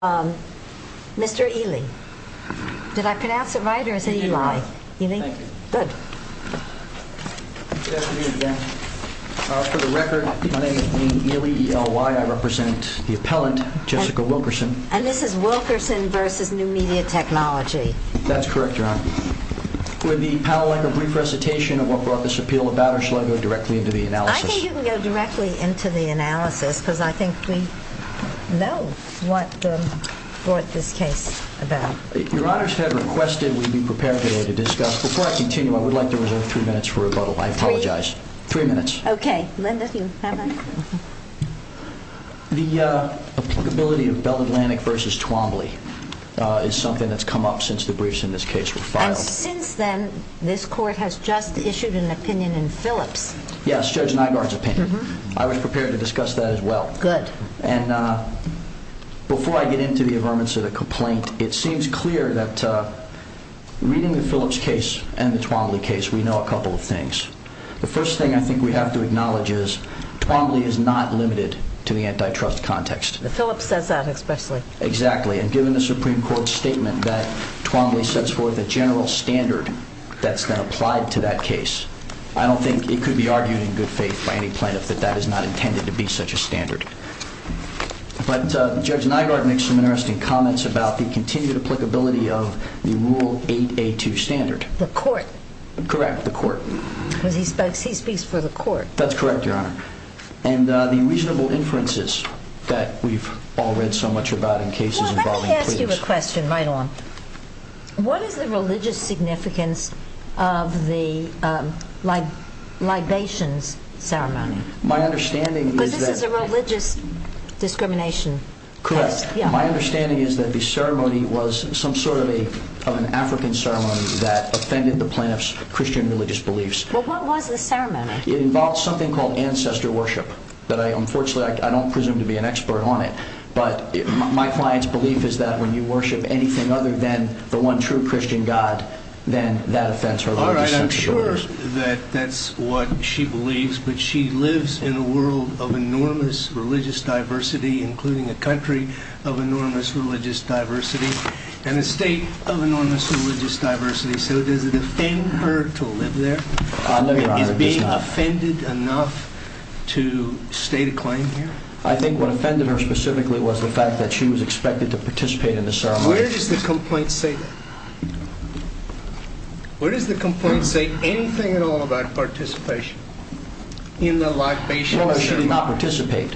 Would the panel like a brief recitation of what brought this appeal about or shall I go directly into the analysis? Your honors had requested we be prepared today to discuss, before I continue I would like to reserve three minutes for rebuttal, I apologize, three minutes, the applicability of Bell Atlantic v. Twombly is something that's come up since the briefs in this case were filed, and since then this court has just issued an opinion in Phillips, yes Judge Nygaard's opinion, I was prepared to discuss that as well, and before I get into the affirmance of the complaint it seems clear that reading the Phillips case and the Twombly case we know a couple of things, the first thing I think we have to acknowledge is Twombly is not limited to the antitrust context, the Phillips says that especially, exactly and given the Supreme Court's statement that Twombly sets forth a general standard that's been applied to that case, I don't think it could be argued in good faith by any plaintiff that that is not intended to be such a standard, but Judge Nygaard makes some interesting comments about the continued applicability of the rule 8A2 standard, the court, correct the court, because he speaks for the court, that's correct your honor, and the reasonable inferences that we've all read so much about in cases involving, well let me ask you a question right on, what is the religious significance of the libations ceremony, because this is a religious discrimination case, correct, my understanding is that the ceremony was some sort of an African ceremony that offended the plaintiff's Christian religious beliefs, well what was the ceremony, it involved something called ancestor worship, that I unfortunately I don't presume to be an expert on it, but my client's belief is that when you worship anything other than the one true Christian God, then that offends her religious sensibilities, alright I'm sure that that's what she believes, but she lives in a world of enormous religious diversity, including a country of enormous religious diversity, and a state of enormous religious diversity, so does it offend her to live there, is being offended enough to state a claim here, I think what offended her specifically was the fact that she was expected to participate in the libation ceremony, where does the complaint say that, where does the complaint say anything at all about participation in the libation ceremony, well she did not participate,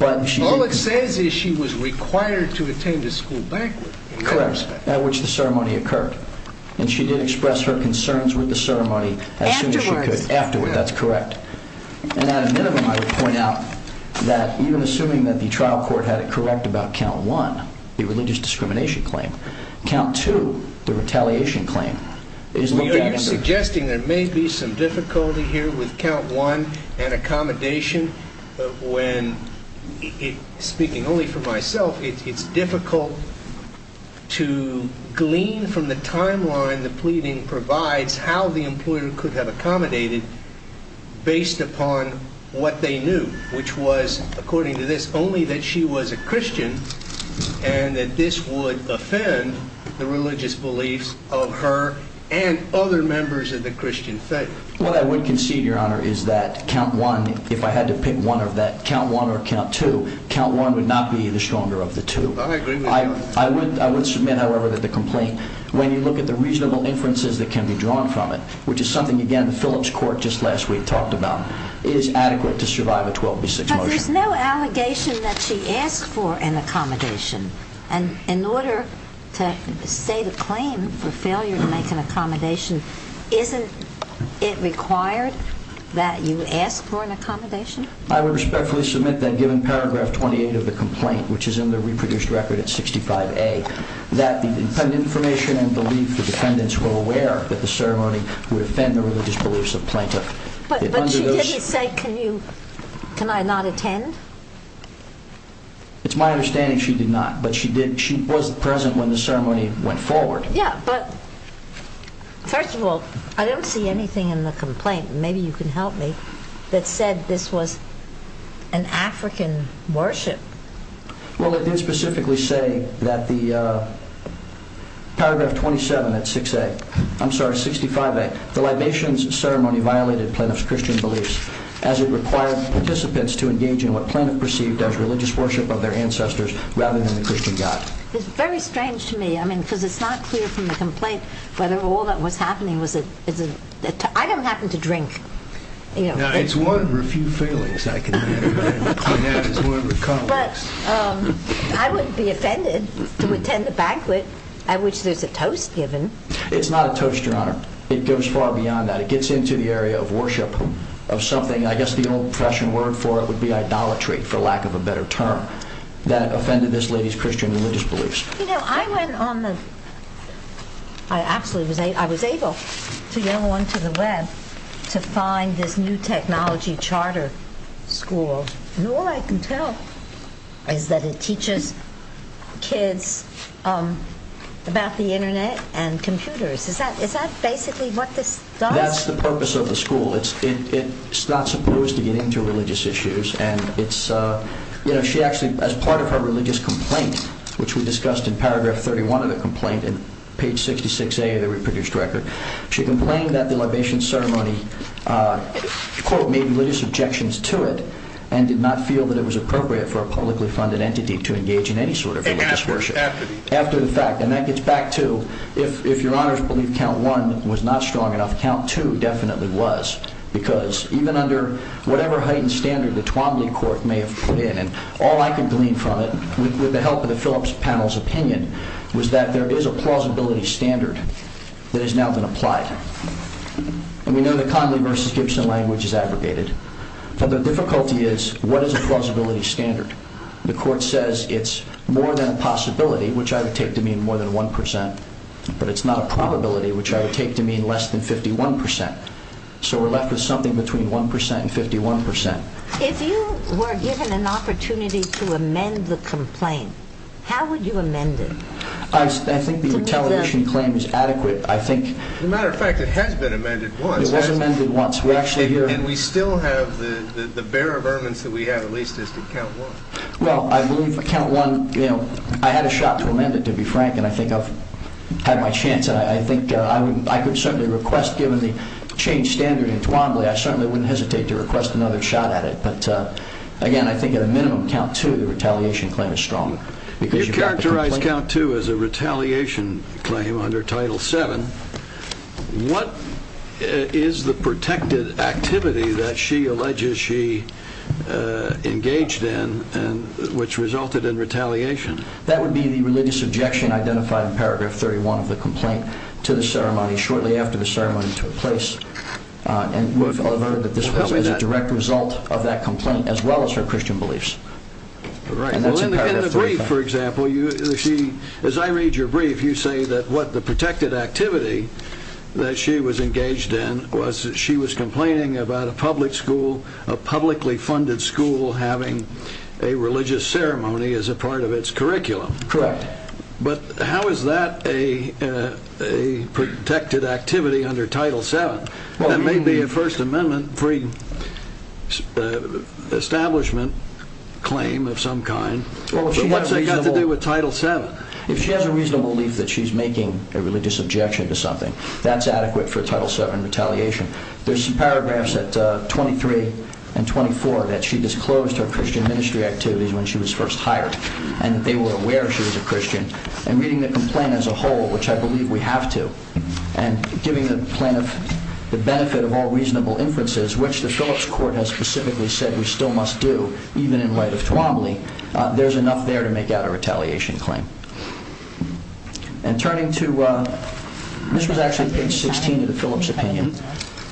all it says is she was required to attend the school banquet, correct, at which the ceremony occurred, and she did express her concerns with the ceremony as soon as she could, afterwards, that's correct, and at a minimum I would point out that even assuming that the trial court had it correct about count one, the religious discrimination claim, count two, the retaliation claim, are you suggesting there may be some difficulty here with count one, and accommodation, when, speaking only for myself, it's difficult to glean from the timeline the pleading provides how the employer could have accommodated, based upon what they knew, which was, according to this, only that she was a Christian, and that this would offend the religious beliefs of her and other members of the Christian faith, what I would concede, your honor, is that count one, if I had to pick one of that, count one or count two, count one would not be the stronger of the two, I would submit, however, that the complaint, when you look at the reasonable inferences that can be drawn from it, which is something, again, the Phillips Court just last week talked about, is adequate to survive a 12B6 motion. But there's no allegation that she asked for an accommodation, and in order to state a claim for failure to make an accommodation, isn't it required that you ask for an accommodation? I would respectfully submit that given paragraph 28 of the complaint, which is in the reproduced record at 65A, that the information and belief of the defendants were aware that the ceremony would offend the religious beliefs of plaintiff. But she didn't say, can you, can I not attend? It's my understanding she did not, but she did, she was present when the ceremony went forward. Yeah, but, first of all, I don't see anything in the complaint, and maybe you can help me, that said this was an African worship. Well, it did specifically say that the, paragraph 27 at 6A, I'm sorry, 65A, the libations ceremony violated plaintiff's Christian beliefs, as it required participants to engage in what plaintiff perceived as religious worship of their ancestors, rather than the Christian God. It's very strange to me, I mean, because it's not clear from the complaint whether all that was happening was a, I don't happen to drink. Now, it's one of a few failings I can think of, and that is one of a couple. But, I wouldn't be offended to attend the banquet, at which there's a toast given. It's not a toast, Your Honor, it goes far beyond that, it gets into the area of worship, of something, I guess the old fashioned word for it would be idolatry, for lack of a better term, that offended this lady's Christian religious beliefs. You know, I went on the, I absolutely was able, I was able to go onto the web to find this new technology charter school, and all I can tell is that it teaches kids about the internet and computers. Is that, is that basically what this does? That's the purpose of the school. It's, it's not supposed to get into religious issues, and it's, you know, she actually, as part of her religious complaint, which we discussed in paragraph 31 of the complaint, in page 66A of the reproduced record, she complained that the libation ceremony, quote, made religious objections to it, and did not feel that it was appropriate for a publicly funded entity to engage in any sort of religious worship. And after the fact. After the fact. And that gets back to, if, if Your Honor's belief count one was not strong enough, count two definitely was, because even under whatever heightened standard the Twombly court may have put in, and all I can glean from it, with the help of the Phillips panel's opinion, was that there is a plausibility standard that has now been applied. And we know the Conley versus Gibson language is aggregated, but the difficulty is, what is a plausibility standard? The court says it's more than a possibility, which I would take to mean more than 1%, but it's not a probability, which I would take to mean less than 51%. So we're left with something between 1% and 51%. If you were given an opportunity to amend the complaint, how would you amend it? I, I think the retaliation claim is adequate, I think. As a matter of fact, it has been amended once. It was amended once. We're actually here. And we still have the, the, the bear of ermines that we have at least as to count one. Well, I believe that count one, you know, I had a shot to amend it, to be frank, and I think I've had my chance. And I, I think I would, I could certainly request, given the changed standard in Twombly, I certainly wouldn't hesitate to request another shot at it. But again, I think at a minimum, count two, the retaliation claim is strong. You characterized count two as a retaliation claim under Title VII. What is the protected activity that she alleges she engaged in and which resulted in retaliation? That would be the religious objection identified in paragraph 31 of the complaint to the ceremony shortly after the ceremony took place. And we've learned that this was a direct result of that complaint as well as her Christian beliefs. Right. And in the brief, for example, you see, as I read your brief, you say that what the protected activity that she was engaged in was that she was complaining about a public school, a publicly funded school, having a religious ceremony as a part of its curriculum. Correct. But how is that a protected activity under Title VII? That may be a First Amendment-free establishment claim of some kind. But what's it got to do with Title VII? If she has a reasonable belief that she's making a religious objection to something, that's adequate for Title VII retaliation. There's some paragraphs at 23 and 24 that she disclosed her Christian ministry activities when she was first hired and that they were aware she was a Christian. And reading the complaint as a whole, which I believe we have to, and giving the plaintiff the benefit of all reasonable inferences, which the Phillips Court has specifically said we still must do, even in light of Twombly, there's enough there to make that a retaliation claim. And turning to – this was actually page 16 of the Phillips opinion.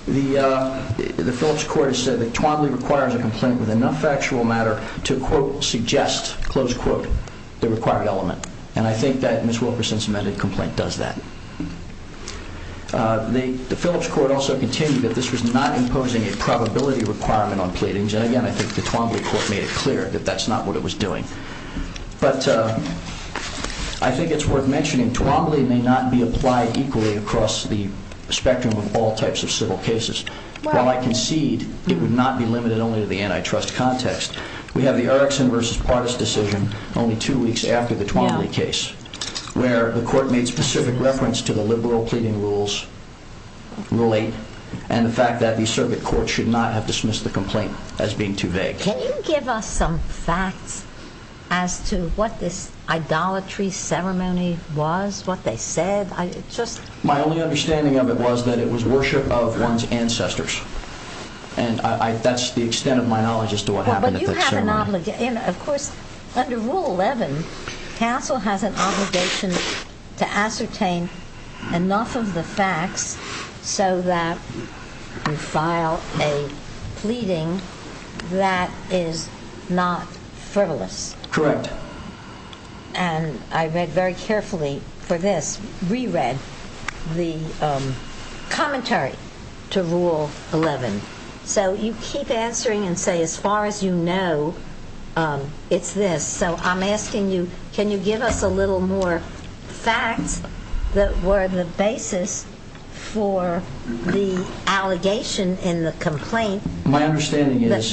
The Phillips Court has said that Twombly requires a complaint with enough factual matter to, quote, suggest, close quote, the required element. And I think that Ms. Wilkerson's amended complaint does that. The Phillips Court also continued that this was not imposing a probability requirement on pleadings. And again, I think the Twombly Court made it clear that that's not what it was doing. But I think it's worth mentioning Twombly may not be applied equally across the spectrum of all types of civil cases. While I concede it would not be limited only to the antitrust context, we have the Erickson v. Pardis decision only two weeks after the Twombly case, where the court made specific reference to the liberal pleading rules, Rule 8, and the fact that the circuit court should not have dismissed the complaint as being too vague. Can you give us some facts as to what this idolatry ceremony was, what they said? My only understanding of it was that it was worship of one's ancestors. And that's the extent of my knowledge as to what happened at that ceremony. Of course, under Rule 11, CASEL has an obligation to ascertain enough of the facts so that you file a pleading that is not frivolous. Correct. And I read very carefully for this, re-read the commentary to Rule 11. So you keep answering and say, as far as you know, it's this. So I'm asking you, can you give us a little more facts that were the basis for the allegation in the complaint that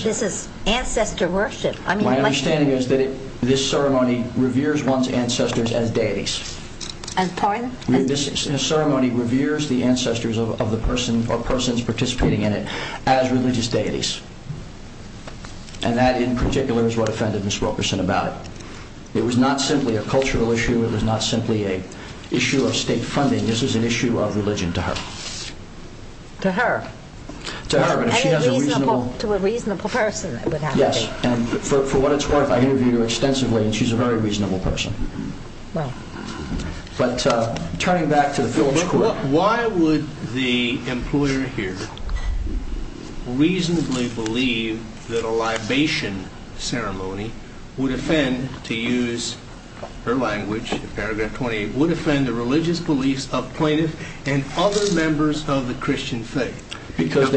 this is ancestor worship? My understanding is that this ceremony reveres one's ancestors as deities. This ceremony reveres the ancestors of the person or persons participating in it as religious deities. And that in particular is what offended Ms. Wilkerson about it. It was not simply a cultural issue. It was not simply an issue of state funding. This was an issue of religion to her. To her? To her. To a reasonable person, it would have to be. Yes. And for what it's worth, I interviewed her extensively, and she's a very reasonable person. Wow. But turning back to the fields court. Why would the employer here reasonably believe that a libation ceremony would offend, to use her language, paragraph 28, would offend the religious beliefs of plaintiffs and other members of the Christian faith?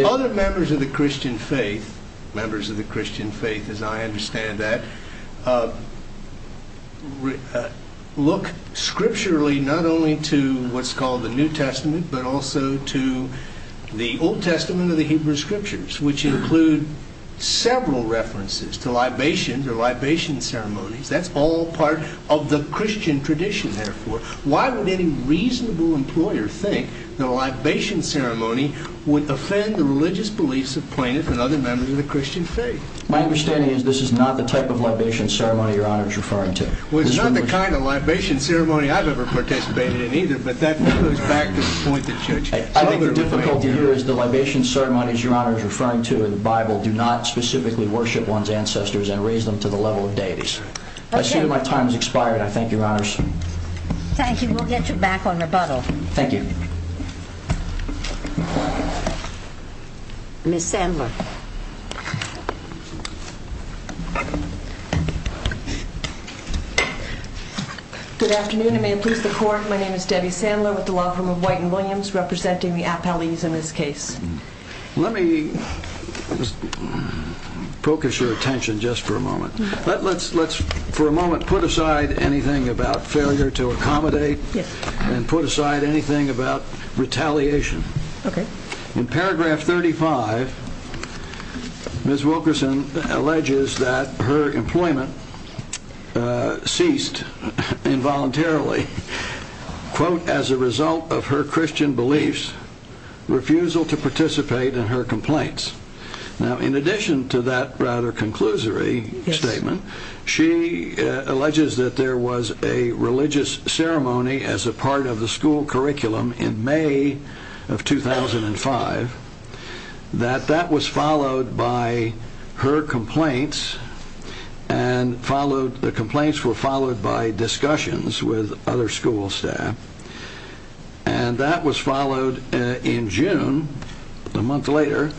Other members of the Christian faith, members of the Christian faith as I understand that, look scripturally not only to what's called the New Testament, but also to the Old Testament of the Hebrew Scriptures, which include several references to libations or libation ceremonies. That's all part of the Christian tradition, therefore. Why would any reasonable employer think that a libation ceremony would offend the religious beliefs of plaintiffs and other members of the Christian faith? My understanding is this is not the type of libation ceremony Your Honor is referring to. Well, it's not the kind of libation ceremony I've ever participated in either, but that goes back to the point that Judge Kidd made. I think the difficulty here is the libation ceremonies Your Honor is referring to in the Bible do not specifically worship one's ancestors and raise them to the level of deities. I assume my time has expired. I thank Your Honors. Thank you. We'll get you back on rebuttal. Thank you. Ms. Sandler. Good afternoon and may it please the Court, my name is Debbie Sandler with the Law Firm of White and Williams, representing the appellees in this case. Let me focus your attention just for a moment. Let's for a moment put aside anything about failure to accommodate and put aside anything about retaliation. In paragraph 35, Ms. Wilkerson alleges that her employment ceased involuntarily, quote, as a result of her Christian beliefs, refusal to participate in her complaints. Now, in addition to that rather conclusory statement, she alleges that there was a religious ceremony as a part of the school curriculum in May of 2005, that that was followed by her complaints and the complaints were followed by discussions with other school staff and that was followed in June, a month later,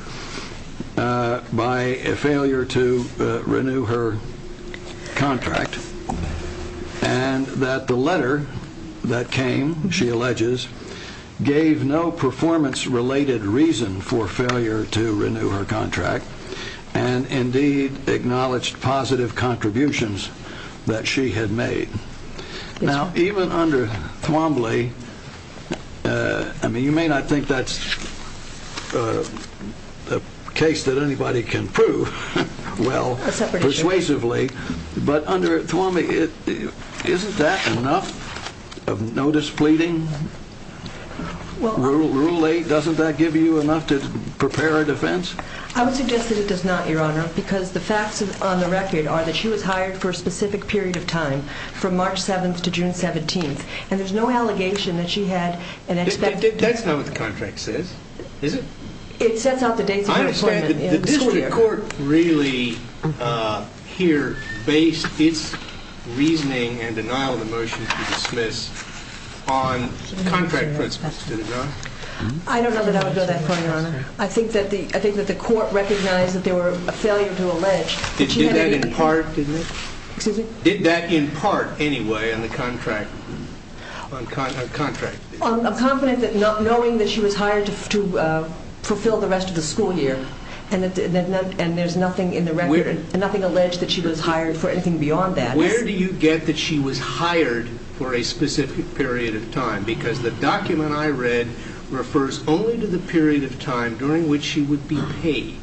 by a failure to renew her contract and that the letter that came, she alleges, gave no performance-related reason for failure to renew her contract and indeed acknowledged positive contributions that she had made. Now, even under Thwombley, I mean, you may not think that's a case that anybody can prove well persuasively, but under Thwombley, isn't that enough of notice pleading? Rule 8, doesn't that give you enough to prepare a defense? I would suggest that it does not, Your Honor, because the facts on the record are that she was hired for a specific period of time, from March 7th to June 17th, and there's no allegation that she had an expected... That's not what the contract says, is it? It sets out the dates of her employment in the school year. Did the court really here base its reasoning and denial of the motion to dismiss on contract principles, did it not? I don't know that I would know that for you, Your Honor. I think that the court recognized that there were a failure to allege that she had any... Did that in part, didn't it? Excuse me? Did that in part, anyway, on the contract? On contract. I'm confident that knowing that she was hired to fulfill the rest of the school year, and there's nothing in the record, nothing alleged that she was hired for anything beyond that. Where do you get that she was hired for a specific period of time? Because the document I read refers only to the period of time during which she would be paid.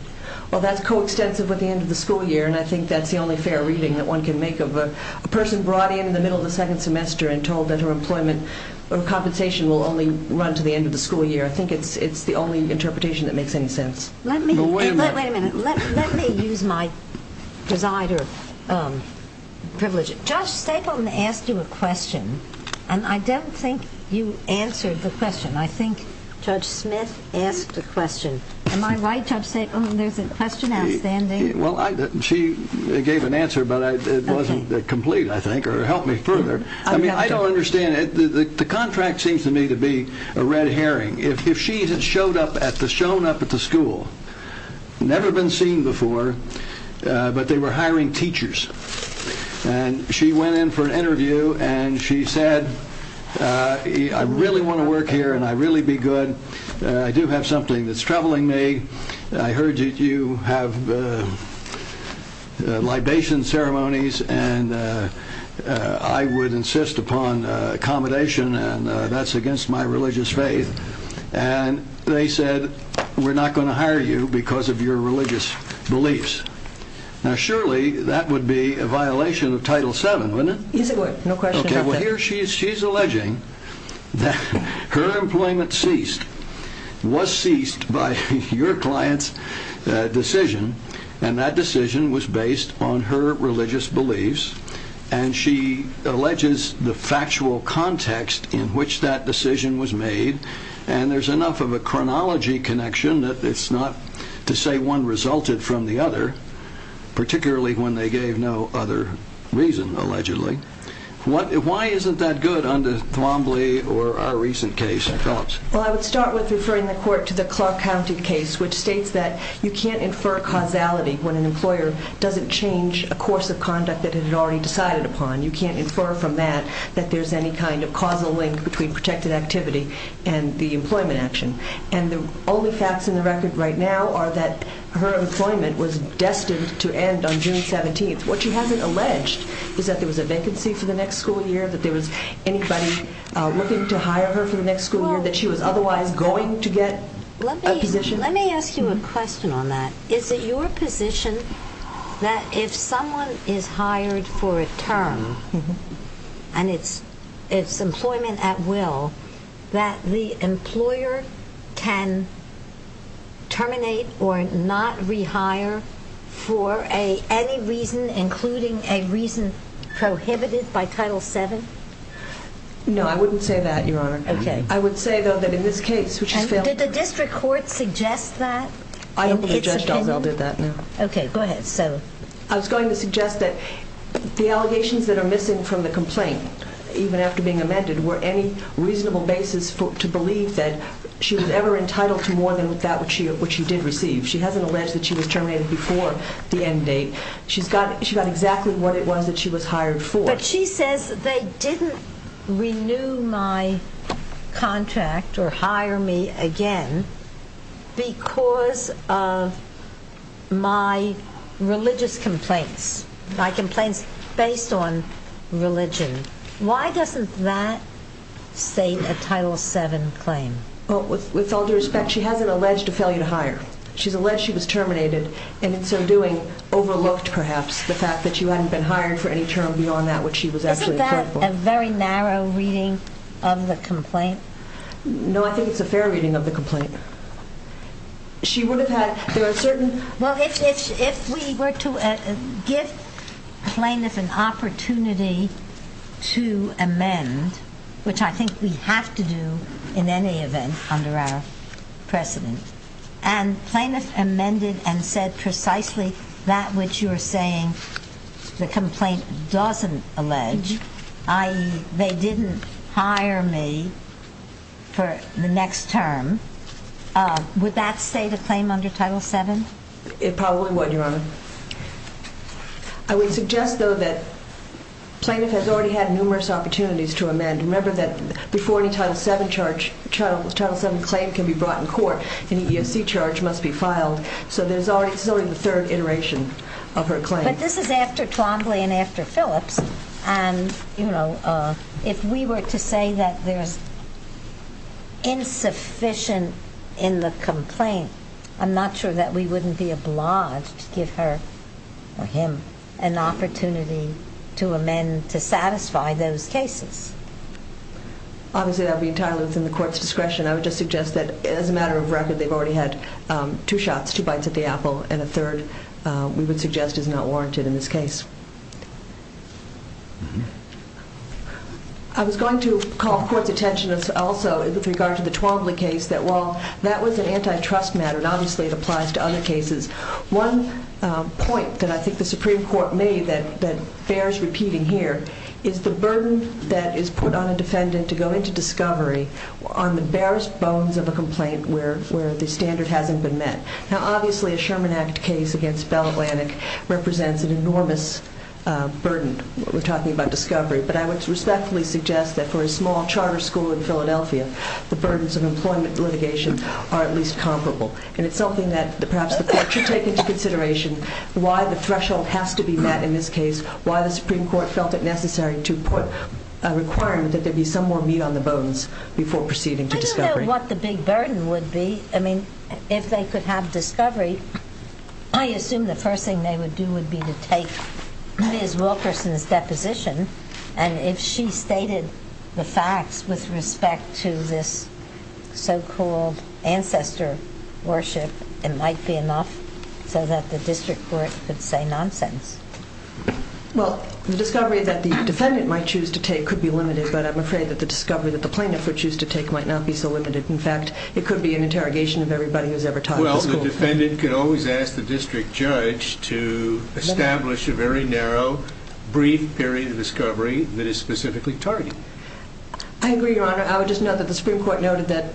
Well, that's coextensive with the end of the school year, and I think that's the only fair reading that one can make of a person brought in in the middle of the second semester and told that her employment or compensation will only run to the end of the school year. I think it's the only interpretation that makes any sense. Wait a minute. Let me use my presider privilege. Judge Stapleton asked you a question, and I don't think you answered the question. I think Judge Smith asked a question. Am I right, Judge Stapleton, there's a question outstanding? Well, she gave an answer, but it wasn't complete, I think, or helped me further. I mean, I don't understand it. The contract seems to me to be a red herring. If she had shown up at the school, never been seen before, but they were hiring teachers, and she went in for an interview and she said, I really want to work here and I'd really be good. I do have something that's troubling me. I heard that you have libation ceremonies, and I would insist upon accommodation, and that's against my religious faith. And they said, we're not going to hire you because of your religious beliefs. Now, surely that would be a violation of Title VII, wouldn't it? No question about that. Well, here she's alleging that her employment ceased, was ceased by your client's decision, and that decision was based on her religious beliefs, and she alleges the factual context in which that decision was made, and there's enough of a chronology connection that it's not to say one resulted from the other, particularly when they gave no other reason, allegedly. Why isn't that good under Thwombly or our recent case? Well, I would start with referring the court to the Clark County case, which states that you can't infer causality when an employer doesn't change a course of conduct that it had already decided upon. You can't infer from that that there's any kind of causal link between protected activity and the employment action. And the only facts in the record right now are that her employment was destined to end on June 17th. What she hasn't alleged is that there was a vacancy for the next school year, that there was anybody looking to hire her for the next school year, that she was otherwise going to get a position. Let me ask you a question on that. Is it your position that if someone is hired for a term and it's employment at will, that the employer can terminate or not rehire for any reason, including a reason prohibited by Title VII? No, I wouldn't say that, Your Honor. Okay. I would say, though, that in this case, which has failed to do that. Did the district court suggest that in its opinion? I don't think Judge Dalzell did that, no. Okay, go ahead. I was going to suggest that the allegations that are missing from the complaint, even after being amended, were any reasonable basis to believe that she was ever entitled to more than what she did receive. She hasn't alleged that she was terminated before the end date. She got exactly what it was that she was hired for. But she says they didn't renew my contract or hire me again because of my religious complaints, my complaints based on religion. Why doesn't that state a Title VII claim? Well, with all due respect, she hasn't alleged a failure to hire. She's alleged she was terminated, and in so doing overlooked perhaps the fact that she hadn't been hired for any term beyond that, which she was actually acceptable. Isn't that a very narrow reading of the complaint? No, I think it's a fair reading of the complaint. Well, if we were to give plaintiff an opportunity to amend, which I think we have to do in any event under our precedent, and plaintiff amended and said precisely that which you're saying the complaint doesn't allege, i.e., they didn't hire me for the next term, would that state a claim under Title VII? It probably would, Your Honor. I would suggest, though, that plaintiff has already had numerous opportunities to amend. Remember that before any Title VII claim can be brought in court, any EEOC charge must be filed. So this is already the third iteration of her claim. But this is after Twombly and after Phillips. And, you know, if we were to say that there's insufficient in the complaint, I'm not sure that we wouldn't be obliged to give her or him an opportunity to amend to satisfy those cases. Obviously, that would be entirely within the court's discretion. I would just suggest that as a matter of record, they've already had two shots, two bites at the apple, and a third, we would suggest, is not warranted in this case. I was going to call court's attention also with regard to the Twombly case, that while that was an antitrust matter, and obviously it applies to other cases, one point that I think the Supreme Court made that bears repeating here is the burden that is put on a defendant to go into discovery on the barest bones of a complaint where the standard hasn't been met. Now, obviously, a Sherman Act case against Bell Atlantic represents an enormous burden. We're talking about discovery. But I would respectfully suggest that for a small charter school in Philadelphia, the burdens of employment litigation are at least comparable. And it's something that perhaps the court should take into consideration, why the threshold has to be met in this case, why the Supreme Court felt it necessary to put a requirement that there be some more meat on the bones before proceeding to discovery. I don't know what the big burden would be. I mean, if they could have discovery, I assume the first thing they would do would be to take Ms. Wilkerson's deposition, and if she stated the facts with respect to this so-called ancestor worship, it might be enough so that the district court could say nonsense. Well, the discovery that the defendant might choose to take could be limited, but I'm afraid that the discovery that the plaintiff would choose to take might not be so limited. In fact, it could be an interrogation of everybody who's ever taught at the school. Well, the defendant could always ask the district judge to establish a very narrow, brief period of discovery that is specifically targeted. I agree, Your Honor. I would just note that the Supreme Court noted that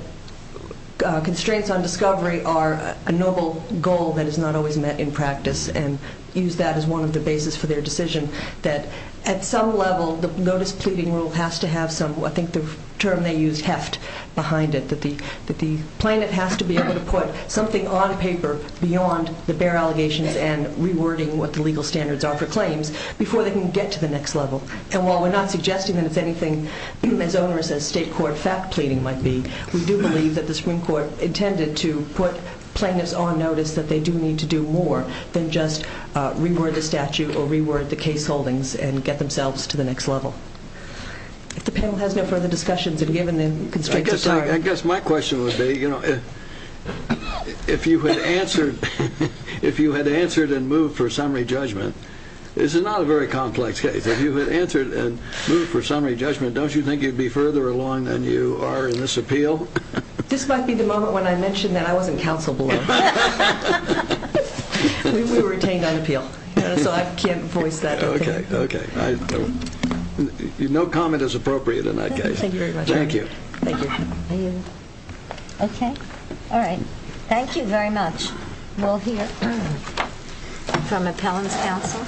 constraints on discovery are a noble goal that is not always met in practice, and used that as one of the bases for their decision, that at some level the notice pleading rule has to have some, I think the term they used, heft behind it, that the plaintiff has to be able to put something on paper beyond the bare allegations and rewording what the legal standards are for claims before they can get to the next level. And while we're not suggesting that it's anything as onerous as state court fact pleading might be, we do believe that the Supreme Court intended to put plaintiffs on notice that they do need to do more than just reword the statute or reword the case holdings and get themselves to the next level. If the panel has no further discussions, and given the constraints, I'm sorry. I guess my question would be, you know, if you had answered and moved for summary judgment, this is not a very complex case, if you had answered and moved for summary judgment, don't you think you'd be further along than you are in this appeal? This might be the moment when I mention that I wasn't counsel below. We were retained on appeal. So I can't voice that. Okay. No comment is appropriate in that case. Thank you very much. Thank you. Okay. All right. Thank you very much. We'll hear from appellant's counsel,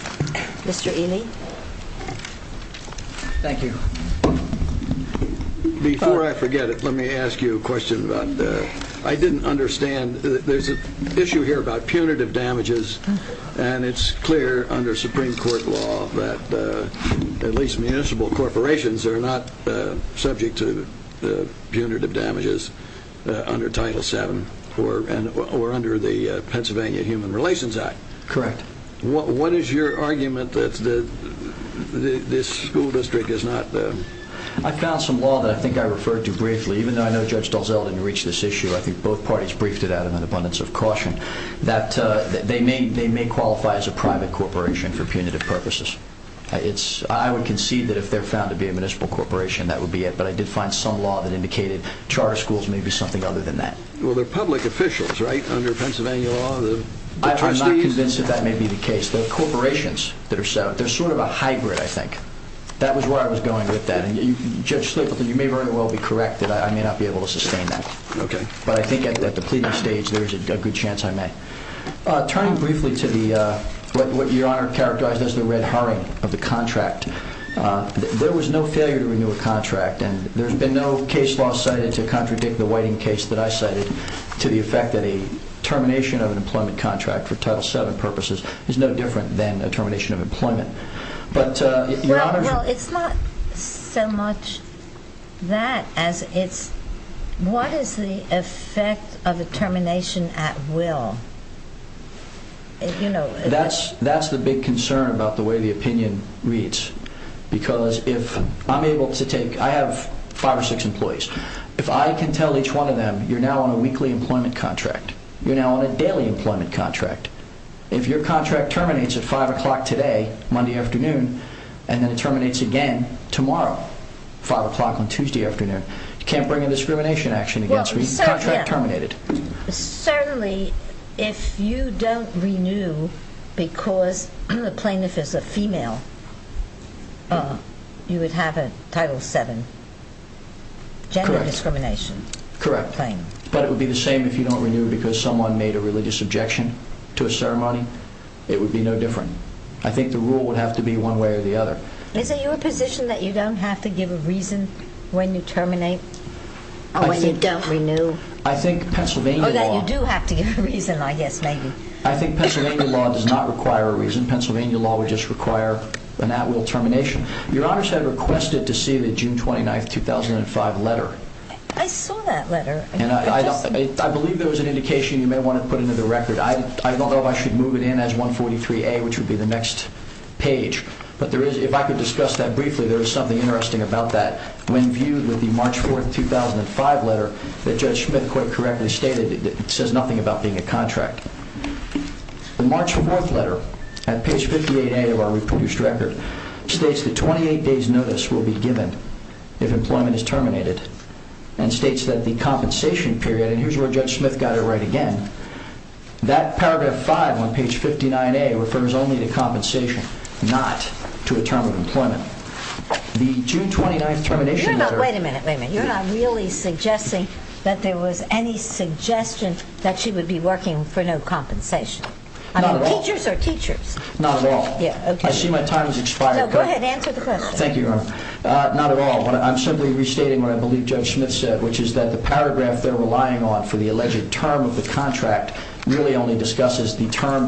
Mr. Ely. Thank you. Before I forget it, let me ask you a question. I didn't understand. There's an issue here about punitive damages, and it's clear under Supreme Court law that at least municipal corporations are not subject to punitive damages under Title VII or under the Pennsylvania Human Relations Act. Correct. What is your argument that this school district is not? I found some law that I think I referred to briefly. Even though I know Judge Dalzell didn't reach this issue, I think both parties briefed it out in an abundance of caution, that they may qualify as a private corporation for punitive purposes. I would concede that if they're found to be a municipal corporation, that would be it, but I did find some law that indicated charter schools may be something other than that. I'm not convinced that that may be the case. They're corporations that are settled. They're sort of a hybrid, I think. That was where I was going with that. Judge Slapleton, you may very well be correct that I may not be able to sustain that. Okay. But I think at the pleading stage, there is a good chance I may. Turning briefly to what Your Honor characterized as the red herring of the contract, there was no failure to renew a contract, and there's been no case law cited to contradict the Whiting case that I cited to the effect that a termination of an employment contract for Title VII purposes is no different than a termination of employment. Well, it's not so much that as it's what is the effect of a termination at will. That's the big concern about the way the opinion reads, because if I'm able to take, I have five or six employees. If I can tell each one of them, you're now on a weekly employment contract. You're now on a daily employment contract. If your contract terminates at 5 o'clock today, Monday afternoon, and then it terminates again tomorrow, 5 o'clock on Tuesday afternoon, you can't bring a discrimination action against me. Your contract terminated. Certainly, if you don't renew because the plaintiff is a female, you would have a Title VII gender discrimination claim. Correct, but it would be the same if you don't renew because someone made a religious objection to a ceremony. It would be no different. I think the rule would have to be one way or the other. Is it your position that you don't have to give a reason when you terminate or when you don't renew, or that you do have to give a reason, I guess, maybe? I think Pennsylvania law does not require a reason. Pennsylvania law would just require an at-will termination. Your Honors had requested to see the June 29, 2005, letter. I saw that letter. I believe there was an indication you may want to put into the record. I don't know if I should move it in as 143A, which would be the next page, but if I could discuss that briefly, there is something interesting about that. When viewed with the March 4, 2005, letter, that Judge Smith quite correctly stated, it says nothing about being a contract. The March 4, 2005, letter at page 58A of our reportage record states that 28 days' notice will be given if employment is terminated and states that the compensation period, and here's where Judge Smith got it right again, that paragraph 5 on page 59A refers only to compensation, not to a term of employment. The June 29, 2005, termination letter... Wait a minute, wait a minute. You're not really suggesting that there was any suggestion that she would be working for no compensation? Not at all. I mean, teachers are teachers. Not at all. Yeah, okay. I see my time has expired. No, go ahead, answer the question. Thank you, Your Honor. Not at all, but I'm simply restating what I believe Judge Smith said, which is that the paragraph they're relying on for the alleged term of the contract really only discusses the term during employment.